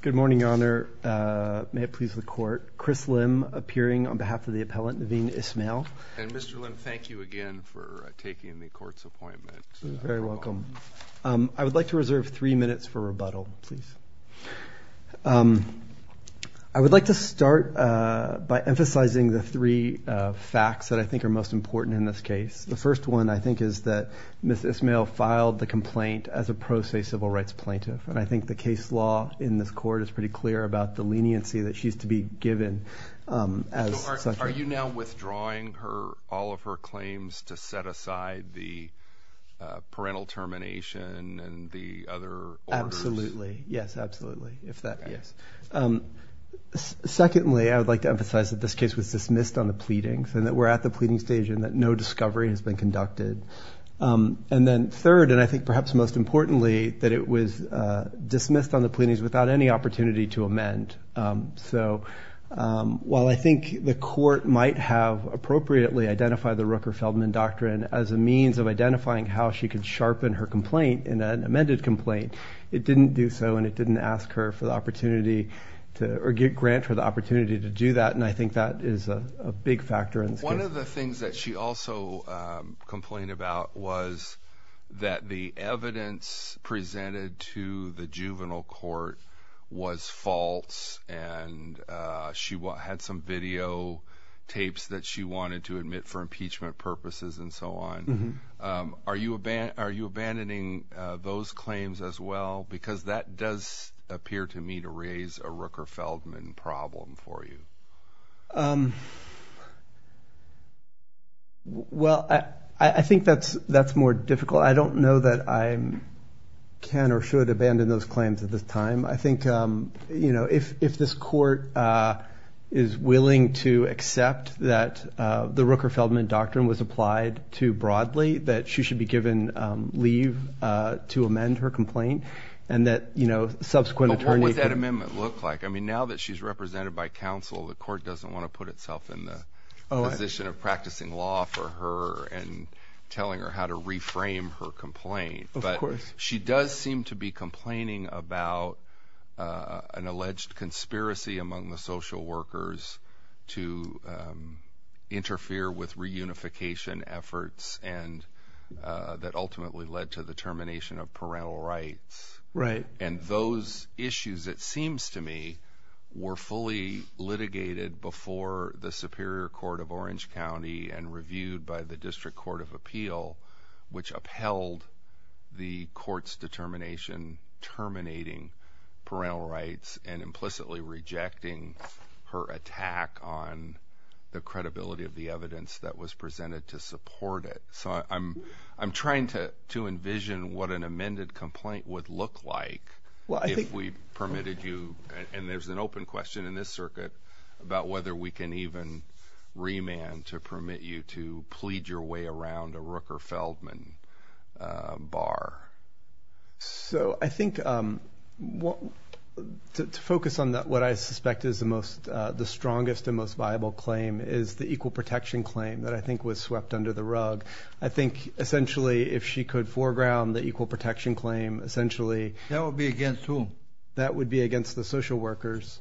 Good morning, Your Honor. May it please the Court. Chris Lim, appearing on behalf of the appellant, Niveen Ismail. And Mr. Lim, thank you again for taking the Court's appointment. You're very welcome. I would like to reserve three minutes for rebuttal, please. I would like to start by emphasizing the three facts that I think are most important in this case. The first one, I think, is that Ms. Ismail filed the complaint as a pro se civil rights plaintiff. And I think the case law in this Court is pretty clear about the leniency that she's to be given. Are you now withdrawing all of her claims to set aside the parental termination and the other orders? Absolutely. Yes, absolutely. If that, yes. Secondly, I would like to emphasize that this case was dismissed on the pleadings and that we're at the pleading stage and that no discovery has been conducted. And then third, and I think perhaps most importantly, that it was dismissed on the pleadings without any opportunity to amend. So while I think the Court might have appropriately identified the Rooker-Feldman Doctrine as a means of identifying how she could sharpen her complaint in an amended complaint, it didn't do so and it didn't ask her for the opportunity or grant her the opportunity to do that. And I think that is a big factor in this case. One of the things that she also complained about was that the evidence presented to the juvenile court was false and she had some video tapes that she wanted to admit for impeachment purposes and so on. Are you abandoning those claims as well? Because that does appear to me to raise a Rooker-Feldman problem for you. Well, I think that's more difficult. I don't know that I can or should abandon those claims at this time. I think if this Court is willing to accept that the Rooker-Feldman Doctrine was applied too broadly, that she should be given leave to amend her She's represented by counsel. The Court doesn't want to put itself in the position of practicing law for her and telling her how to reframe her complaint. But she does seem to be complaining about an alleged conspiracy among the social workers to interfere with reunification efforts and that ultimately led to the termination of parental rights. And those issues, it seems to me, were fully litigated before the Superior Court of Orange County and reviewed by the District Court of Appeal, which upheld the Court's determination terminating parental rights and implicitly rejecting her attack on the credibility of the evidence that was presented to support it. So I'm trying to envision what an amended complaint would look like if we permitted you, and there's an open question in this circuit about whether we can even remand to permit you to plead your way around a Rooker-Feldman bar. So I think to focus on what I suspect is the strongest and most viable claim is the equal protection claim that I think was swept under the rug. I think essentially if she could foreground the equal protection claim essentially. That would be against whom? That would be against the social workers.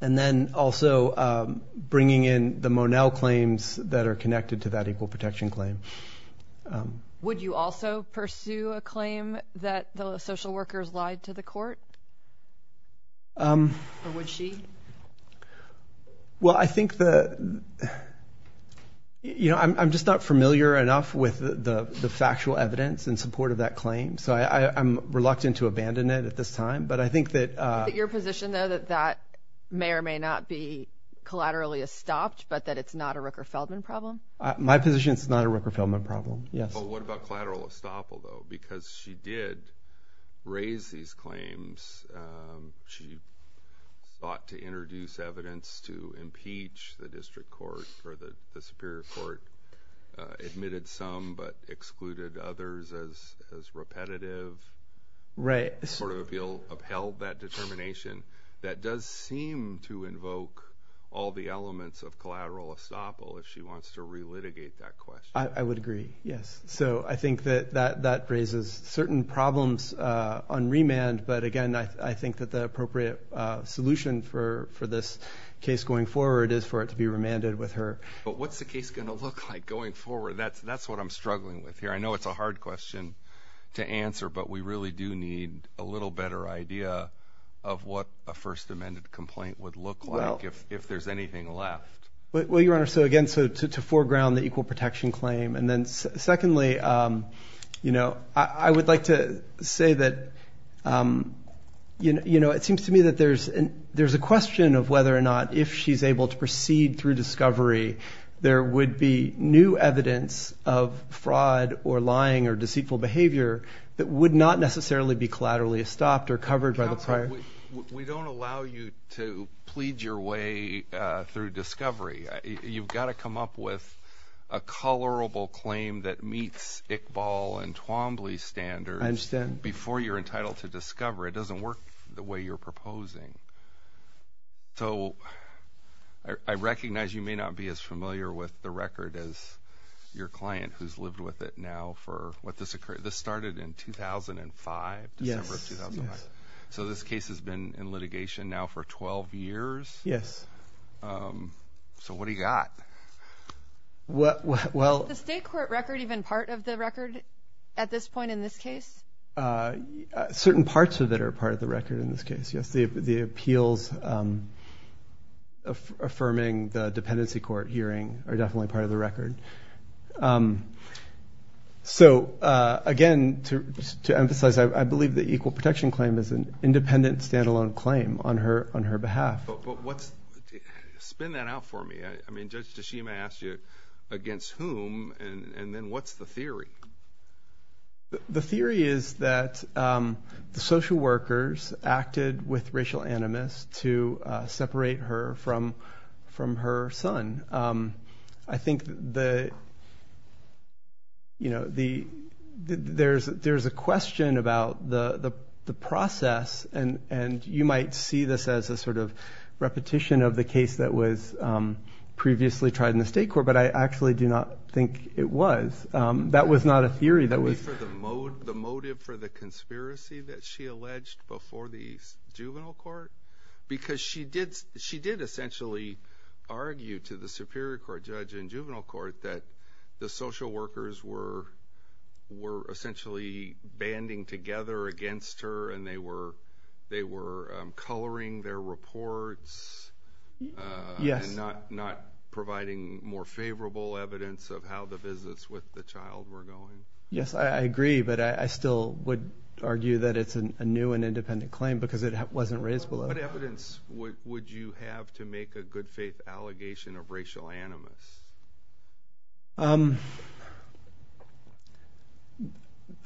And then also bringing in the Monell claims that are connected to that equal protection claim. Would you also pursue a claim that the social workers lied to the court? Or would she? Well, I think that, you know, I'm just not familiar enough with the factual evidence in support of that claim. So I'm reluctant to abandon it at this time. But I think that your position, though, that that may or may not be collaterally estopped, but that it's not a Rooker-Feldman problem. My position is it's not a Rooker-Feldman problem. Yes. But what about collateral estoppel, though? Because she did raise these claims. She sought to introduce evidence to impeach the District Court or the Superior Court, admitted some but excluded others as repetitive. Right. Sort of upheld that determination. That does seem to invoke all the elements of collateral estoppel if she wants to relitigate that question. I would agree. Yes. So I think that that raises certain problems on remand. But again, I think that the appropriate solution for this case going forward is for it to be remanded with her. But what's the case going to look like going forward? That's what I'm struggling with here. I know it's a hard question to answer, but we really do need a little better idea of what a First Amendment complaint would look like if there's anything left. Well, Your Honor, so again, so to foreground the equal protection claim and then secondly, you know, I would like to say that, you know, it seems to me that there's a question of whether or not if she's able to discovery, there would be new evidence of fraud or lying or deceitful behavior that would not necessarily be collaterally stopped or covered by the prior. We don't allow you to plead your way through discovery. You've got to come up with a colorable claim that meets Iqbal and Twombly standards before you're entitled to discover. It doesn't work the way you're proposing. So I recognize you may not be as familiar with the record as your client who's lived with it now for what this occurred. This started in 2005, December of 2005. So this case has been in litigation now for 12 years. Yes. So what do you got? Well, the state court record, even part of the record at this point in this case? Certain parts of it are part of the record in this case. The appeals affirming the dependency court hearing are definitely part of the record. So again, to emphasize, I believe the equal protection claim is an independent, standalone claim on her behalf. But what's, spin that out for me. I mean, Judge Tashima asked you against whom and then what's the theory? So the theory is that the social workers acted with racial animus to separate her from her son. I think there's a question about the process and you might see this as a sort of repetition of the case that was previously tried in the state court, but I actually do not think it was. That was not a theory. The motive for the conspiracy that she alleged before the juvenile court, because she did, she did essentially argue to the superior court judge in juvenile court that the social workers were, were essentially banding together against her and they were, they were coloring their reports. Yes. Not, not providing more favorable evidence of how the business with the child were going. Yes, I agree, but I still would argue that it's a new and independent claim because it wasn't raised below. What evidence would you have to make a good faith allegation of racial animus?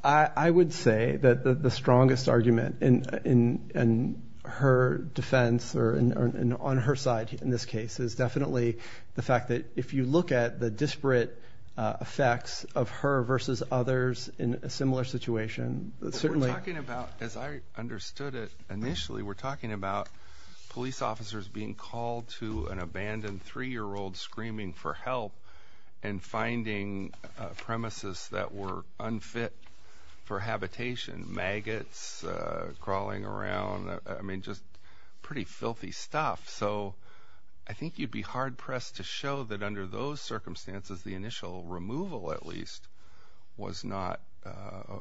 I would say that the strongest argument in her defense or on her side in this case is definitely the fact that if you look at the disparate effects of her versus others in a similar situation, certainly... We're talking about, as I understood it initially, we're talking about police officers being called to an abandoned three-year-old screaming for help and finding premises that were unfit for habitation, maggots crawling around. I mean, just pretty filthy stuff. So I think you'd be hard pressed to show that under those circumstances, the initial removal at least was not,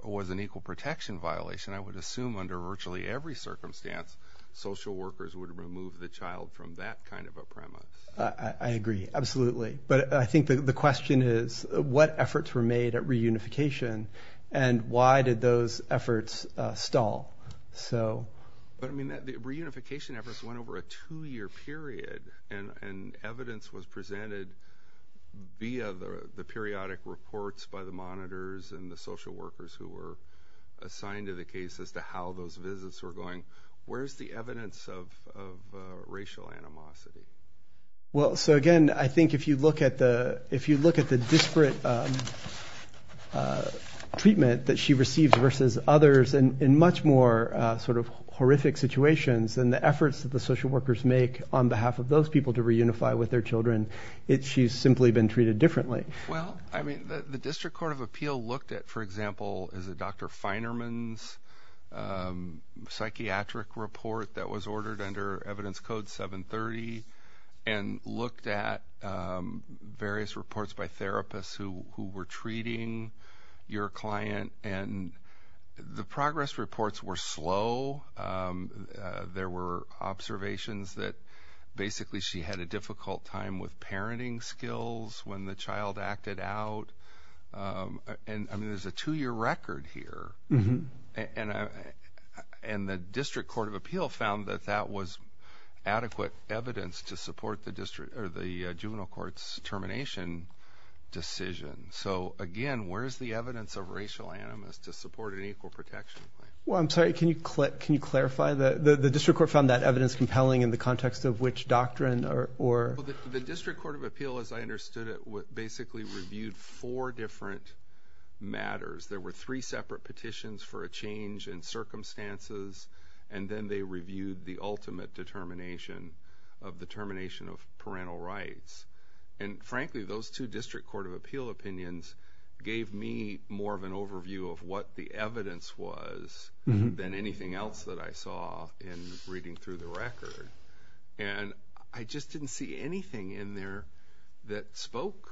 was an equal protection violation. I would assume under virtually every circumstance, social workers would remove the child from that kind of a premise. I agree. Absolutely. But I think the question is what efforts were made at reunification and why did those efforts stall? But I mean, the reunification efforts went over a two-year period and evidence was presented via the periodic reports by the monitors and the social workers who were assigned to the case as to how those visits were going. Where's the evidence of racial animosity? Well, so again, I think if you look at the disparate treatment that she received versus others in much more sort of horrific situations, then the efforts that the social workers make on behalf of those people to reunify with their children, it's she's simply been treated differently. Well, I mean, the District Court of Appeal looked at, for example, is it Dr. Feinerman's psychiatric report that was ordered under evidence code 730 and looked at various reports by therapists who were treating your client and the progress reports were slow. There were observations that basically she had a difficult time with parenting skills when the child acted out. And I mean, there's a two-year record here. And the District Court of Appeal found that that was adequate evidence to support the district or the juvenile court's termination decision. So again, where's the evidence of racial animus to support an equal protection plan? Well, I'm sorry, can you clarify? The District Court found that evidence compelling in the context of which doctrine or... The District Court of Appeal reviewed four different matters. There were three separate petitions for a change in circumstances, and then they reviewed the ultimate determination of the termination of parental rights. And frankly, those two District Court of Appeal opinions gave me more of an overview of what the evidence was than anything else that I saw in reading through the record. And I just didn't see anything in there that spoke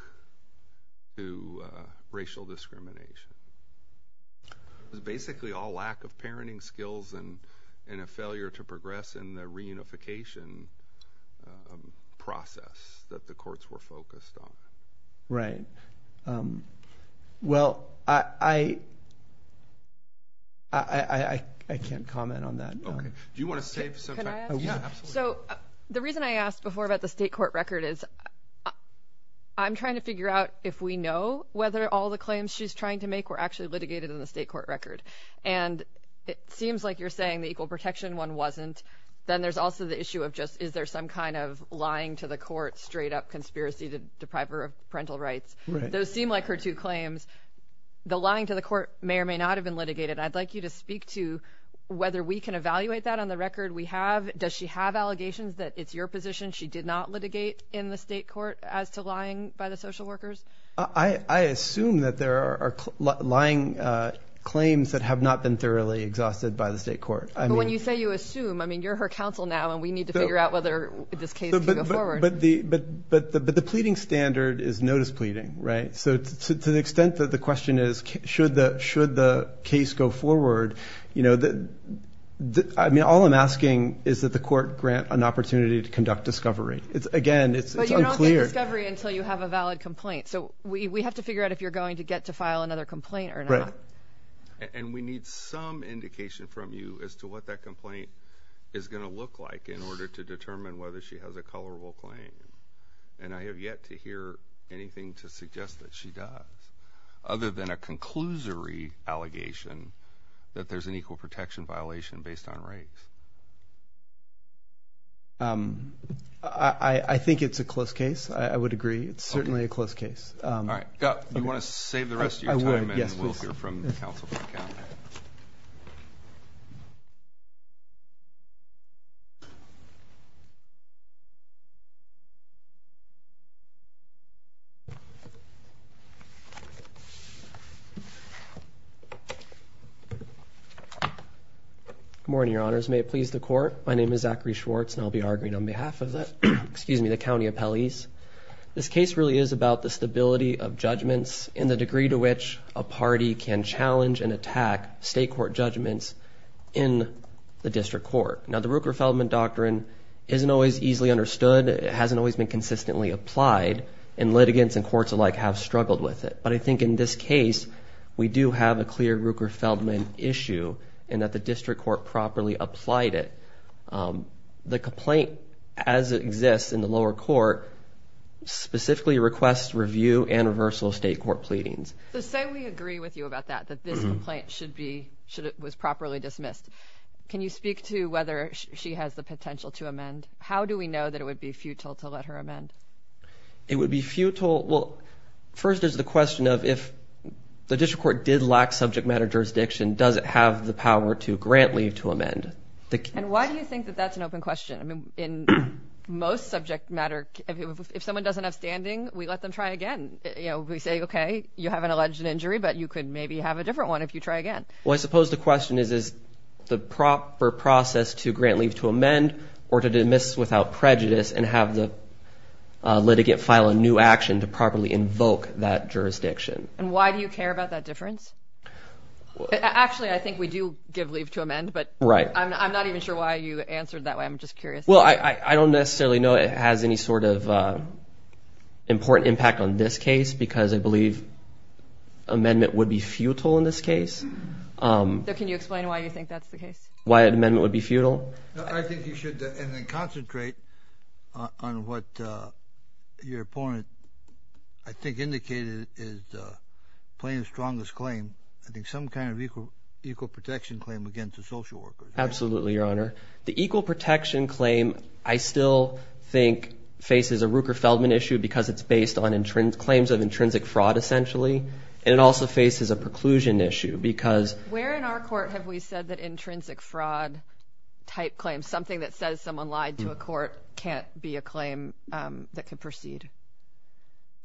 to racial discrimination. It was basically all lack of parenting skills and a failure to progress in the reunification process that the courts were focused on. Right. Well, I can't comment on that. Okay. Can I ask? Yeah, absolutely. So the reason I asked before about the state court record is I'm trying to figure out if we know whether all the claims she's trying to make were actually litigated in the state court record. And it seems like you're saying the equal protection one wasn't. Then there's also the issue of just, is there some kind of lying to the court straight up conspiracy to deprive her of parental rights? Those seem like her two claims. The lying to the court may or may not have been litigated. I'd like you to speak to whether we can evaluate that on the record we have. Does she have allegations that it's your position she did not litigate in the state court as to lying by the social workers? I assume that there are lying claims that have not been thoroughly exhausted by the state court. When you say you assume, I mean, you're her counsel now and we need to figure out whether this case can go forward. But the pleading standard is notice pleading, right? So to the extent that the question is, should the case go forward? I mean, all I'm asking is that the court grant an opportunity to conduct discovery. Again, it's unclear. But you don't get discovery until you have a valid complaint. So we have to figure out if you're going to get to file another complaint or not. Right. And we need some indication from you as to what that complaint is going to look like in order to determine whether she has a colorable claim. And I have yet to hear anything to suggest that she does other than a conclusory allegation that there's an equal protection violation based on race. I think it's a close case. I would agree. It's certainly a close case. You want to save the rest of your time and we'll hear from the counsel for the count. Good morning, your honors. May it please the court. My name is Zachary Schwartz and I'll be arguing on behalf of the, excuse me, the county appellees. This case really is about the stability of judgments in the degree to which a party can challenge and attack state court judgments in the district court. Now the Ruker-Feldman doctrine isn't always easily understood. It hasn't always been consistently applied and litigants and courts alike have struggled with it. But I think in this case, we do have a clear Ruker-Feldman issue and that the district court properly applied it. The complaint as it exists in the lower court specifically requests review and reversal of state court pleadings. So say we agree with you about that, that this complaint should be, should, was properly dismissed. Can you speak to whether she has the potential to amend? How do we know that it would be futile to let her amend? It would be futile. Well, first there's the question of if the district court did lack subject matter jurisdiction, does it have the open question? I mean, in most subject matter, if someone doesn't have standing, we let them try again. You know, we say, okay, you have an alleged injury, but you could maybe have a different one if you try again. Well, I suppose the question is, is the proper process to grant leave to amend or to dismiss without prejudice and have the litigant file a new action to properly invoke that jurisdiction? And why do you care about that difference? Actually, I think we do give leave to amend, but I'm not even sure why you answered that way. I'm just curious. Well, I don't necessarily know it has any sort of important impact on this case because I believe amendment would be futile in this case. So can you explain why you think that's the case? Why an amendment would be futile? I think you should, and then concentrate on what your opponent I think indicated is the plaintiff's strongest claim. I think some kind of equal protection claim against a social worker. Absolutely, your honor. The equal protection claim, I still think faces a Ruker-Feldman issue because it's based on claims of intrinsic fraud, essentially, and it also faces a preclusion issue because... Where in our court have we said that intrinsic fraud type claims, something that says someone lied to a court can't be a claim that can proceed?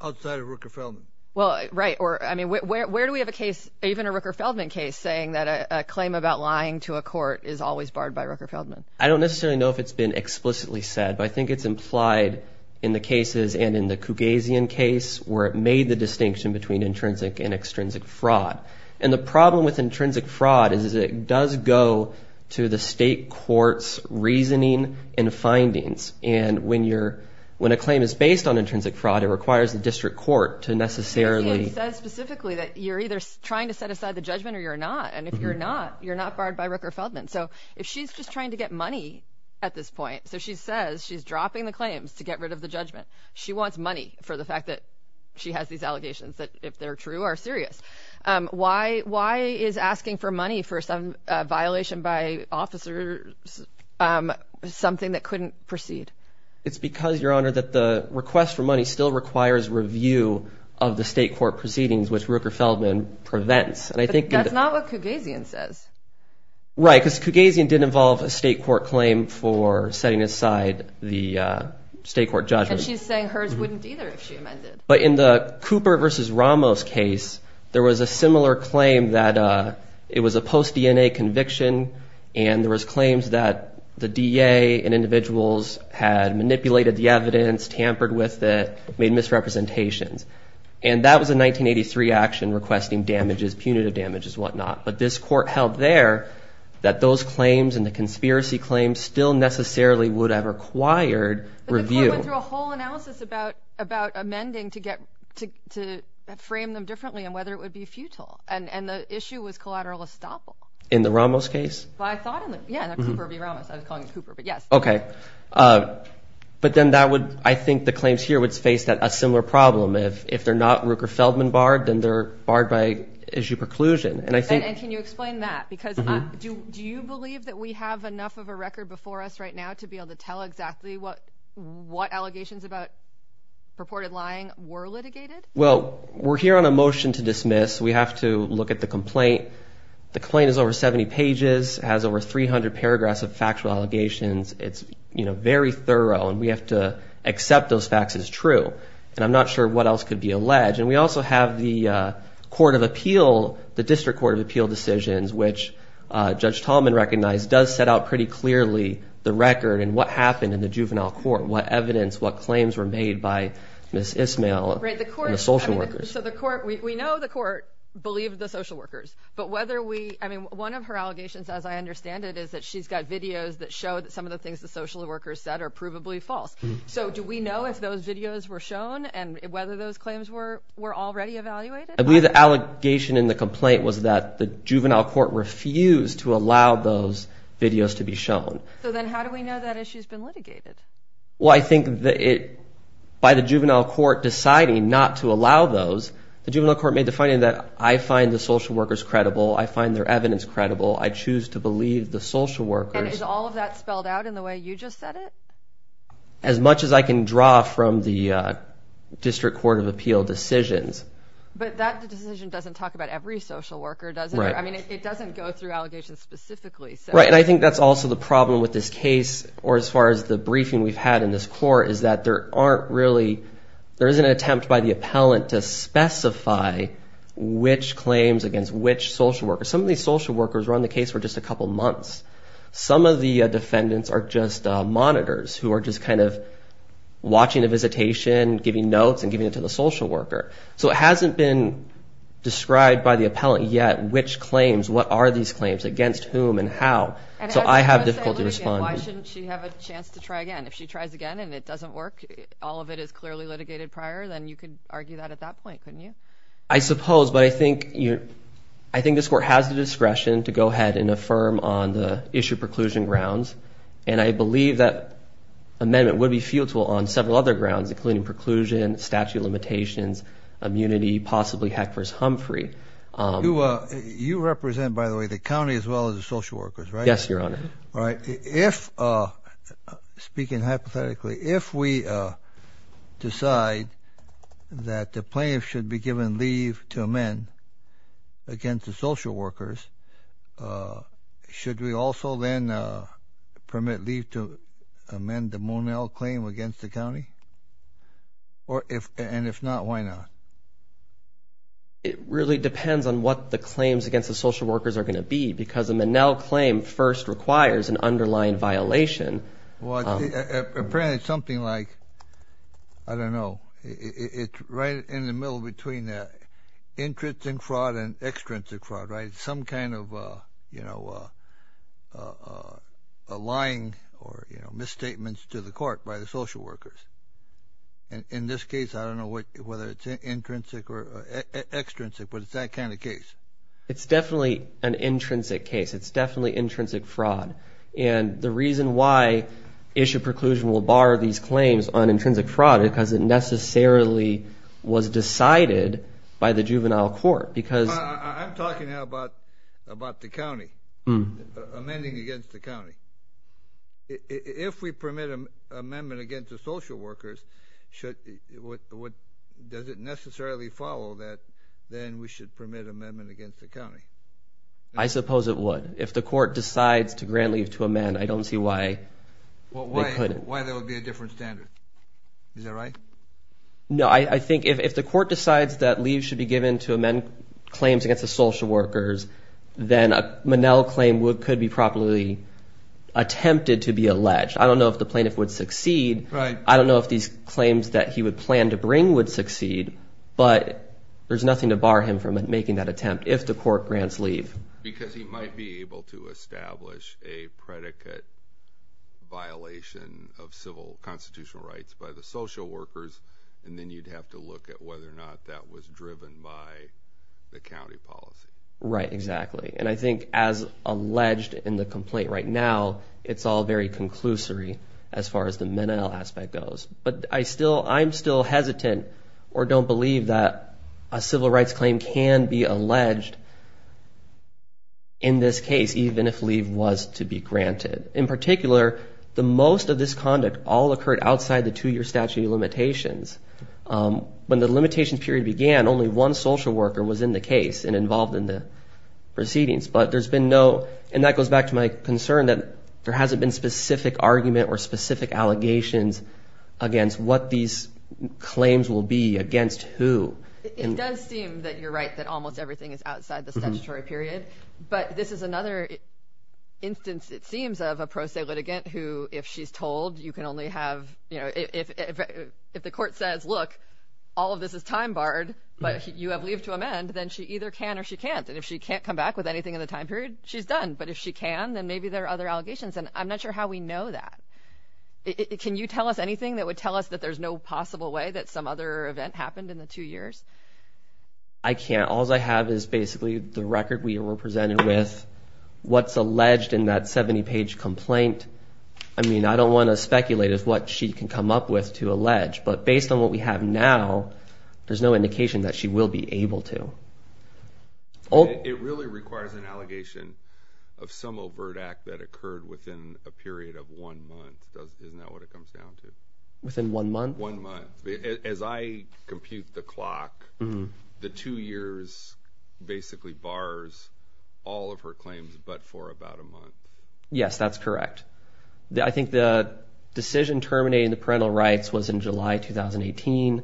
Outside of Ruker-Feldman. Well, right. Where do we have a case, even a Ruker-Feldman case, saying that a claim about lying to a court is always barred by Ruker-Feldman? I don't necessarily know if it's been explicitly said, but I think it's implied in the cases and in the Cugazian case where it made the distinction between intrinsic and extrinsic fraud. And the problem with intrinsic fraud is it does go to the state court's reasoning and findings. And when a claim is based on a claim, it requires the district court to necessarily... It says specifically that you're either trying to set aside the judgment or you're not. And if you're not, you're not barred by Ruker-Feldman. So if she's just trying to get money at this point, so she says she's dropping the claims to get rid of the judgment. She wants money for the fact that she has these allegations that if they're true are serious. Why is asking for money for some violation by officers something that couldn't proceed? It's because, Your Honor, that the request for money still requires review of the state court proceedings, which Ruker-Feldman prevents. That's not what Cugazian says. Right. Because Cugazian did involve a state court claim for setting aside the state court judgment. And she's saying hers wouldn't either if she amended. But in the Cooper versus Ramos case, there was a similar claim that it was a post-DNA conviction. And there was claims that the DA and individuals had manipulated the evidence, tampered with it, made misrepresentations. And that was a 1983 action requesting damages, punitive damages, whatnot. But this court held there that those claims and the conspiracy claims still necessarily would have required review. But the court went through a whole analysis about amending to frame them differently and whether it would be futile. And the issue was collateral estoppel. In the Ramos case? I thought in the Cooper v. Ramos. I was calling it Cooper, but yes. Okay. But then I think the claims here would face a similar problem. If they're not Ruker-Feldman barred, then they're barred by issue preclusion. And I think... And can you explain that? Because do you believe that we have enough of a record before us right now to be able to tell exactly what allegations about purported lying were litigated? Well, we're here on a motion to dismiss. We have to look at the complaint. The claim is over 70 pages, has over 300 paragraphs of factual allegations. It's very thorough and we have to accept those facts as true. And I'm not sure what else could be alleged. And we also have the Court of Appeal, the District Court of Appeal decisions, which Judge Tallman recognized does set out pretty clearly the record and what happened in the juvenile court, what evidence, what claims were made by Ms. Ismail and the social workers. We know the court believed the social workers, but whether we... I mean, one of her allegations, as I understand it, is that she's got videos that show that some of the things the social workers said are provably false. So do we know if those videos were shown and whether those claims were already evaluated? I believe the allegation in the complaint was that the juvenile court refused to allow those videos to be shown. So then how do we know that issue's been litigated? Well, I think that by the juvenile court deciding not to allow those, the juvenile court made the finding that I find the social workers credible, I find their evidence credible, I choose to believe the social workers. And is all of that spelled out in the way you just said it? As much as I can draw from the District Court of Appeal decisions. But that decision doesn't talk about every social worker, does it? Right. I mean, it doesn't go through allegations specifically. Right. And I think that's also the problem with this case, or as far as the briefing we've had in this court, is that there aren't really... There isn't an attempt by the appellant to specify which claims against which social workers. Some of these social workers were on the case for just a couple months. Some of the defendants are just monitors who are just kind of watching a visitation, giving notes, and giving it to the social worker. So it hasn't been described by the appellant yet which claims, what are these claims, against whom, and how. So I have difficulty responding. Why shouldn't she have a chance to try again? If she tries again and it doesn't work, all of it is clearly litigated prior, then you could argue that at that point, couldn't you? I suppose. But I think this court has the discretion to go ahead and affirm on the issue preclusion grounds. And I believe that amendment would be futile on several other grounds, including preclusion, statute of limitations, immunity, possibly Heckler's-Humphrey. You represent, by the way, the county as well as the social workers, right? Yes, Your Honor. All right. Speaking hypothetically, if we decide that the plaintiff should be given leave to amend against the social workers, should we also then permit leave to amend the Monell claim against the county? And if not, why not? It really depends on what the claims against the social workers are going to be, because the Monell claim first requires an underlying violation. Well, apparently, it's something like, I don't know, it's right in the middle between the intrinsic fraud and extrinsic fraud, right? Some kind of, you know, a lying or, you know, misstatements to the court by the social workers. And in this case, I don't know whether it's intrinsic or extrinsic, but it's that kind of case. It's definitely an intrinsic case. It's definitely intrinsic fraud. And the reason why issue preclusion will bar these claims on intrinsic fraud is because it necessarily was decided by the juvenile court, because... I'm talking now about the county, amending against the county. If we permit an amendment against the social workers, does it necessarily follow that then we should permit amendment against the county? I suppose it would. If the court decides to grant leave to amend, I don't see why they couldn't. Why there would be a different standard. Is that right? No, I think if the court decides that leave should be given to amend claims against the social workers, then a Monell claim could be properly attempted to be alleged. I don't know if the plaintiff would succeed. Right. I don't know if these claims that he would plan to bring would succeed, but there's nothing to bar him from making that attempt if the court grants leave. Because he might be able to establish a predicate violation of civil constitutional rights by the social workers. And then you'd have to look at whether or not that was driven by the county policy. Right, exactly. And I think as alleged in the complaint right now, it's all very conclusory as far as the Monell aspect goes. But I'm still hesitant or don't believe that a civil rights claim can be alleged in this case, even if leave was to be granted. In particular, the most of this conduct all occurred outside the two-year statute of limitations. When the limitation period began, only one social worker was in the case and involved in the proceedings. But there's been no... And that goes back to my concern that there hasn't been specific argument or specific allegations against what these claims will be against who. It does seem that you're right that almost everything is outside the statutory period. But this is another instance, it seems, of a pro se litigant who, if she's told you can only have... If the court says, look, all of this is time barred, but you have leave to amend, then she either can or she can't. And if she can't come back with anything in the time period, she's done. But if she can, then maybe there are other allegations. And I'm not sure how we know that. Can you tell us anything that would tell us that there's no possible way that some other event happened in the two years? I can't. All I have is basically the record we were presented with, what's alleged in that 70-page complaint. I mean, I don't want to speculate as what she can come up with to allege. But based on what we have now, there's no indication that she will be able to. It really requires an allegation of some overt act that occurred within a period of one month. Isn't that what it comes down to? Within one month? One month. As I compute the clock, the two years basically bars all of her claims, but for about a month. Yes, that's correct. I think the decision terminating the parental rights was in July 2018.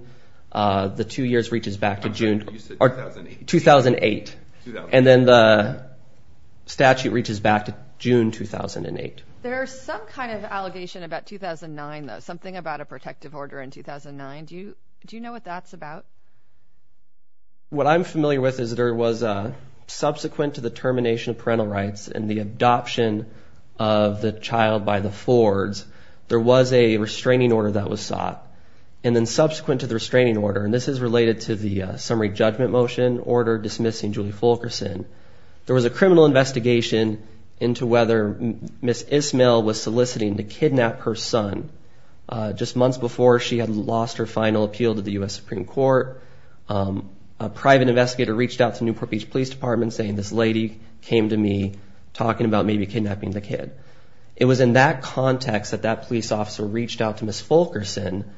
The two years reaches back to June. I thought you said 2008. 2008. And then the statute reaches back to June 2008. There's some kind of allegation about 2009, though. Something about a protective order in 2009. Do you know what that's about? What I'm familiar with is there was a subsequent to the termination of parental rights and the adoption of the child by the Fords, there was a restraining order that was sought. And then subsequent to the restraining order, and this is related to the summary judgment motion order dismissing Julie Fulkerson, there was a criminal investigation into whether Ms. Ismail was soliciting to kidnap her son. Just months before she had lost her final appeal to the US Supreme Court, a private investigator reached out to Newport Beach Police Department saying, this lady came to me talking about maybe kidnapping the kid. It was in that context that that police officer reached out to Ms. Fulkerson.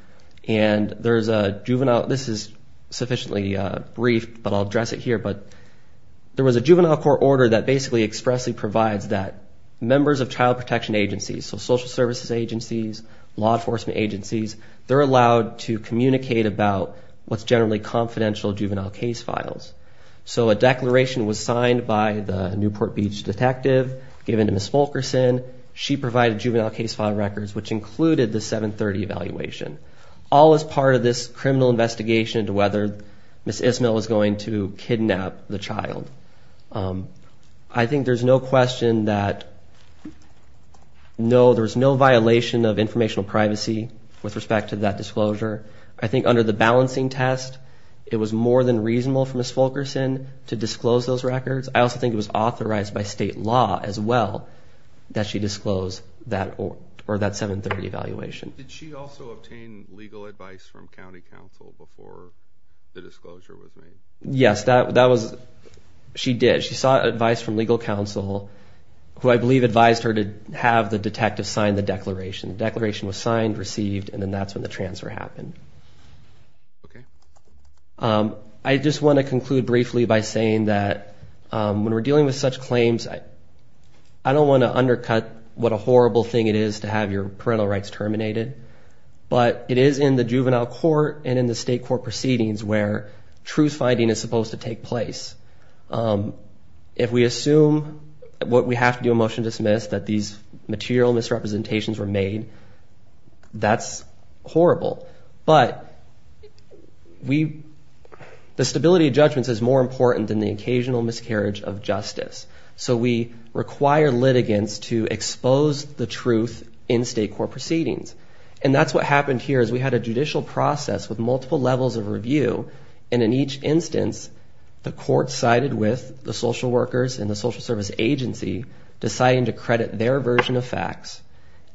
And there's a juvenile... This is sufficiently brief, but I'll address it here. But there was a juvenile court order that basically expressly provides that members of child protection agencies, so social services agencies, law enforcement agencies, they're allowed to communicate about what's generally confidential juvenile case files. So a declaration was signed by the Newport Beach detective, given to Ms. Fulkerson. She provided juvenile case file records, which included the 730 evaluation. All as part of this criminal investigation into whether Ms. Ismail was going to kidnap the child. I think there's no question that... No, there was no violation of informational privacy with respect to that disclosure. I think under the balancing test, it was more than reasonable for Ms. Fulkerson to disclose those records. I also think it was authorized by state law as well that she disclosed that 730 evaluation. Did she also obtain legal advice from county council before the disclosure was made? Yes, that was... She did. She sought advice from legal counsel, who I believe advised her to have the detective sign the declaration. Declaration was signed, received, and then that's when the transfer happened. I just want to conclude briefly by saying that when we're dealing with such claims, I don't want to undercut what a horrible thing it is to have your parental rights terminated. But it is in the juvenile court and in the state court proceedings where truth-finding is supposed to take place. If we assume what we have to do in motion to dismiss, that these material misrepresentations were made, that's horrible. But the stability of judgments is more important than the occasional miscarriage of justice. So we require litigants to expose the truth in state court proceedings. And that's what happened here is we had a judicial process with multiple levels of review. And in each instance, the court sided with the social workers and the social service agency, deciding to credit their version of facts.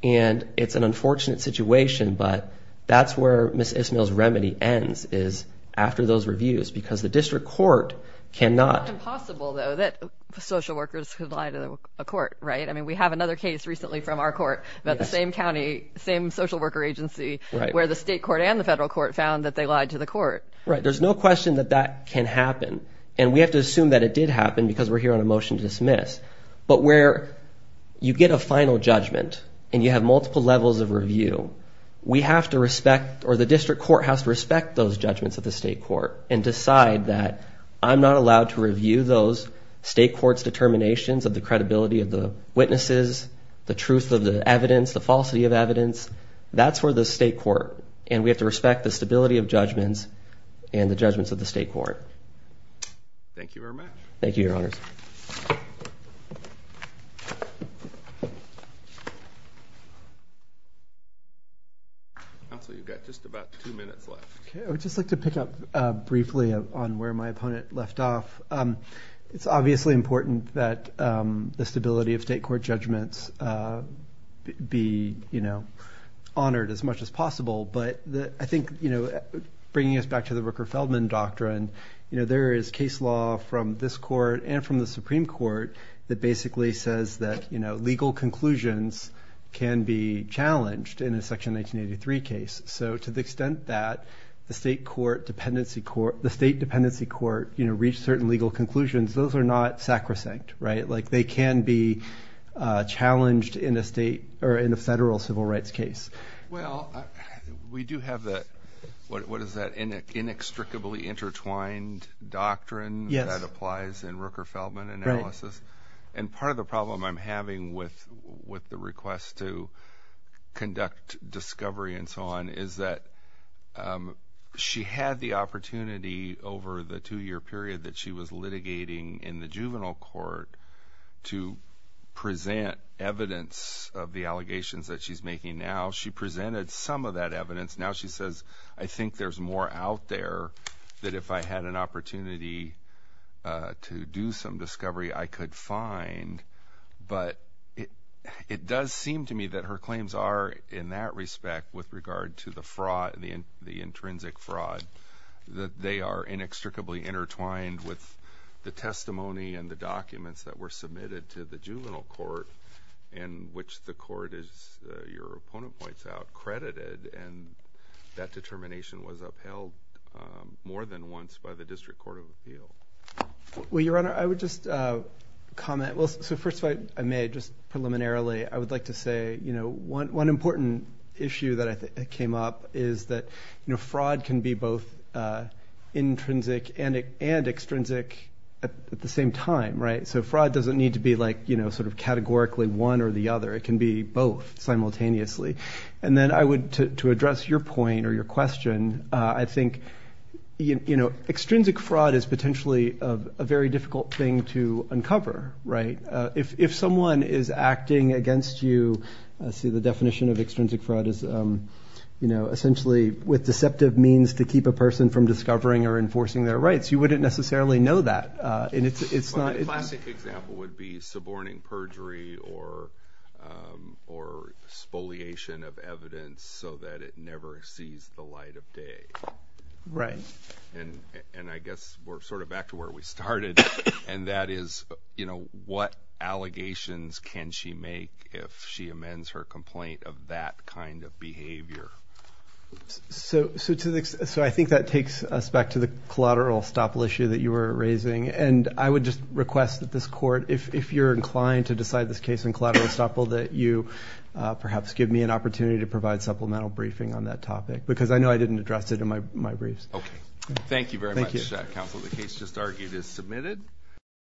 And it's an unfortunate situation, but that's where Ms. Ismael's remedy ends, is after those reviews, because the district court cannot... It's impossible, though, that social workers could lie to a court, right? I mean, we have another case recently from our court about the same county, same social worker agency, where the state court and the federal court found that they lied to the court. Right. There's no question that that can happen. And we have to assume that it did happen because we're here on a motion to dismiss. But where you get a final judgment and you have multiple levels of review, we have to respect... Or the district court has to respect those judgments of the state court and decide that I'm not allowed to review those state court's determinations of the credibility of the witnesses, the truth of the evidence, the falsity of evidence. That's where the state court... And we have to respect the stability of judgments and the judgments of the state court. Thank you very much. Thank you, Your Honors. Counsel, you've got just about two minutes left. Okay. I would just like to pick up briefly on where my opponent left off. It's obviously important that the stability of state court judgments be honored as much as possible. But I think, bringing us back to the Rooker-Feldman doctrine, there is case law from this court and from the Supreme Court that basically says that legal conclusions can be challenged in a Section 1983 case. So to the extent that the state dependency court reached certain legal conclusions, those are not sacrosanct. They can be challenged in a federal civil rights case. Well, we do have the... What is that? Inextricably intertwined doctrine that applies in Rooker-Feldman analysis. And part of the problem I'm having with the request to conduct discovery and so on is that she had the opportunity over the two-year period that she was litigating in the juvenile court to present evidence of the allegations that she's making now. She presented some of that evidence. Now she says, I think there's more out there that if I had an opportunity to do some discovery, I could find. But it does seem to me that her claims are, in that respect, with regard to the fraud, the intrinsic fraud, that they are inextricably intertwined with the testimony and the documents that were submitted to the juvenile court in which the court is, your opponent points out, credited. And that determination was upheld more than once by the District Court of Appeal. Well, Your Honor, I would just comment. Well, so first of all, if I may, just preliminarily, I would like to say, one important issue that I think came up is that fraud can be both intrinsic and extrinsic at the same time, right? Fraud doesn't need to be categorically one or the other. It can be both simultaneously. And then I would, to address your point or your question, I think extrinsic fraud is potentially a very difficult thing to uncover, right? If someone is acting against you, see, the definition of extrinsic fraud is essentially with deceptive means to keep a person from discovering or enforcing their rights. You wouldn't necessarily know that. But a classic example would be suborning perjury or spoliation of evidence so that it never sees the light of day. Right. And I guess we're sort of back to where we started. And that is, what allegations can she make if she amends her complaint of that kind of behavior? So I think that takes us back to the collateral estoppel issue that you were raising. And I would just request that this court, if you're inclined to decide this case in collateral estoppel, that you perhaps give me an opportunity to provide supplemental briefing on that topic. Because I know I didn't address it in my briefs. Okay. Thank you very much, counsel. The case just argued is submitted.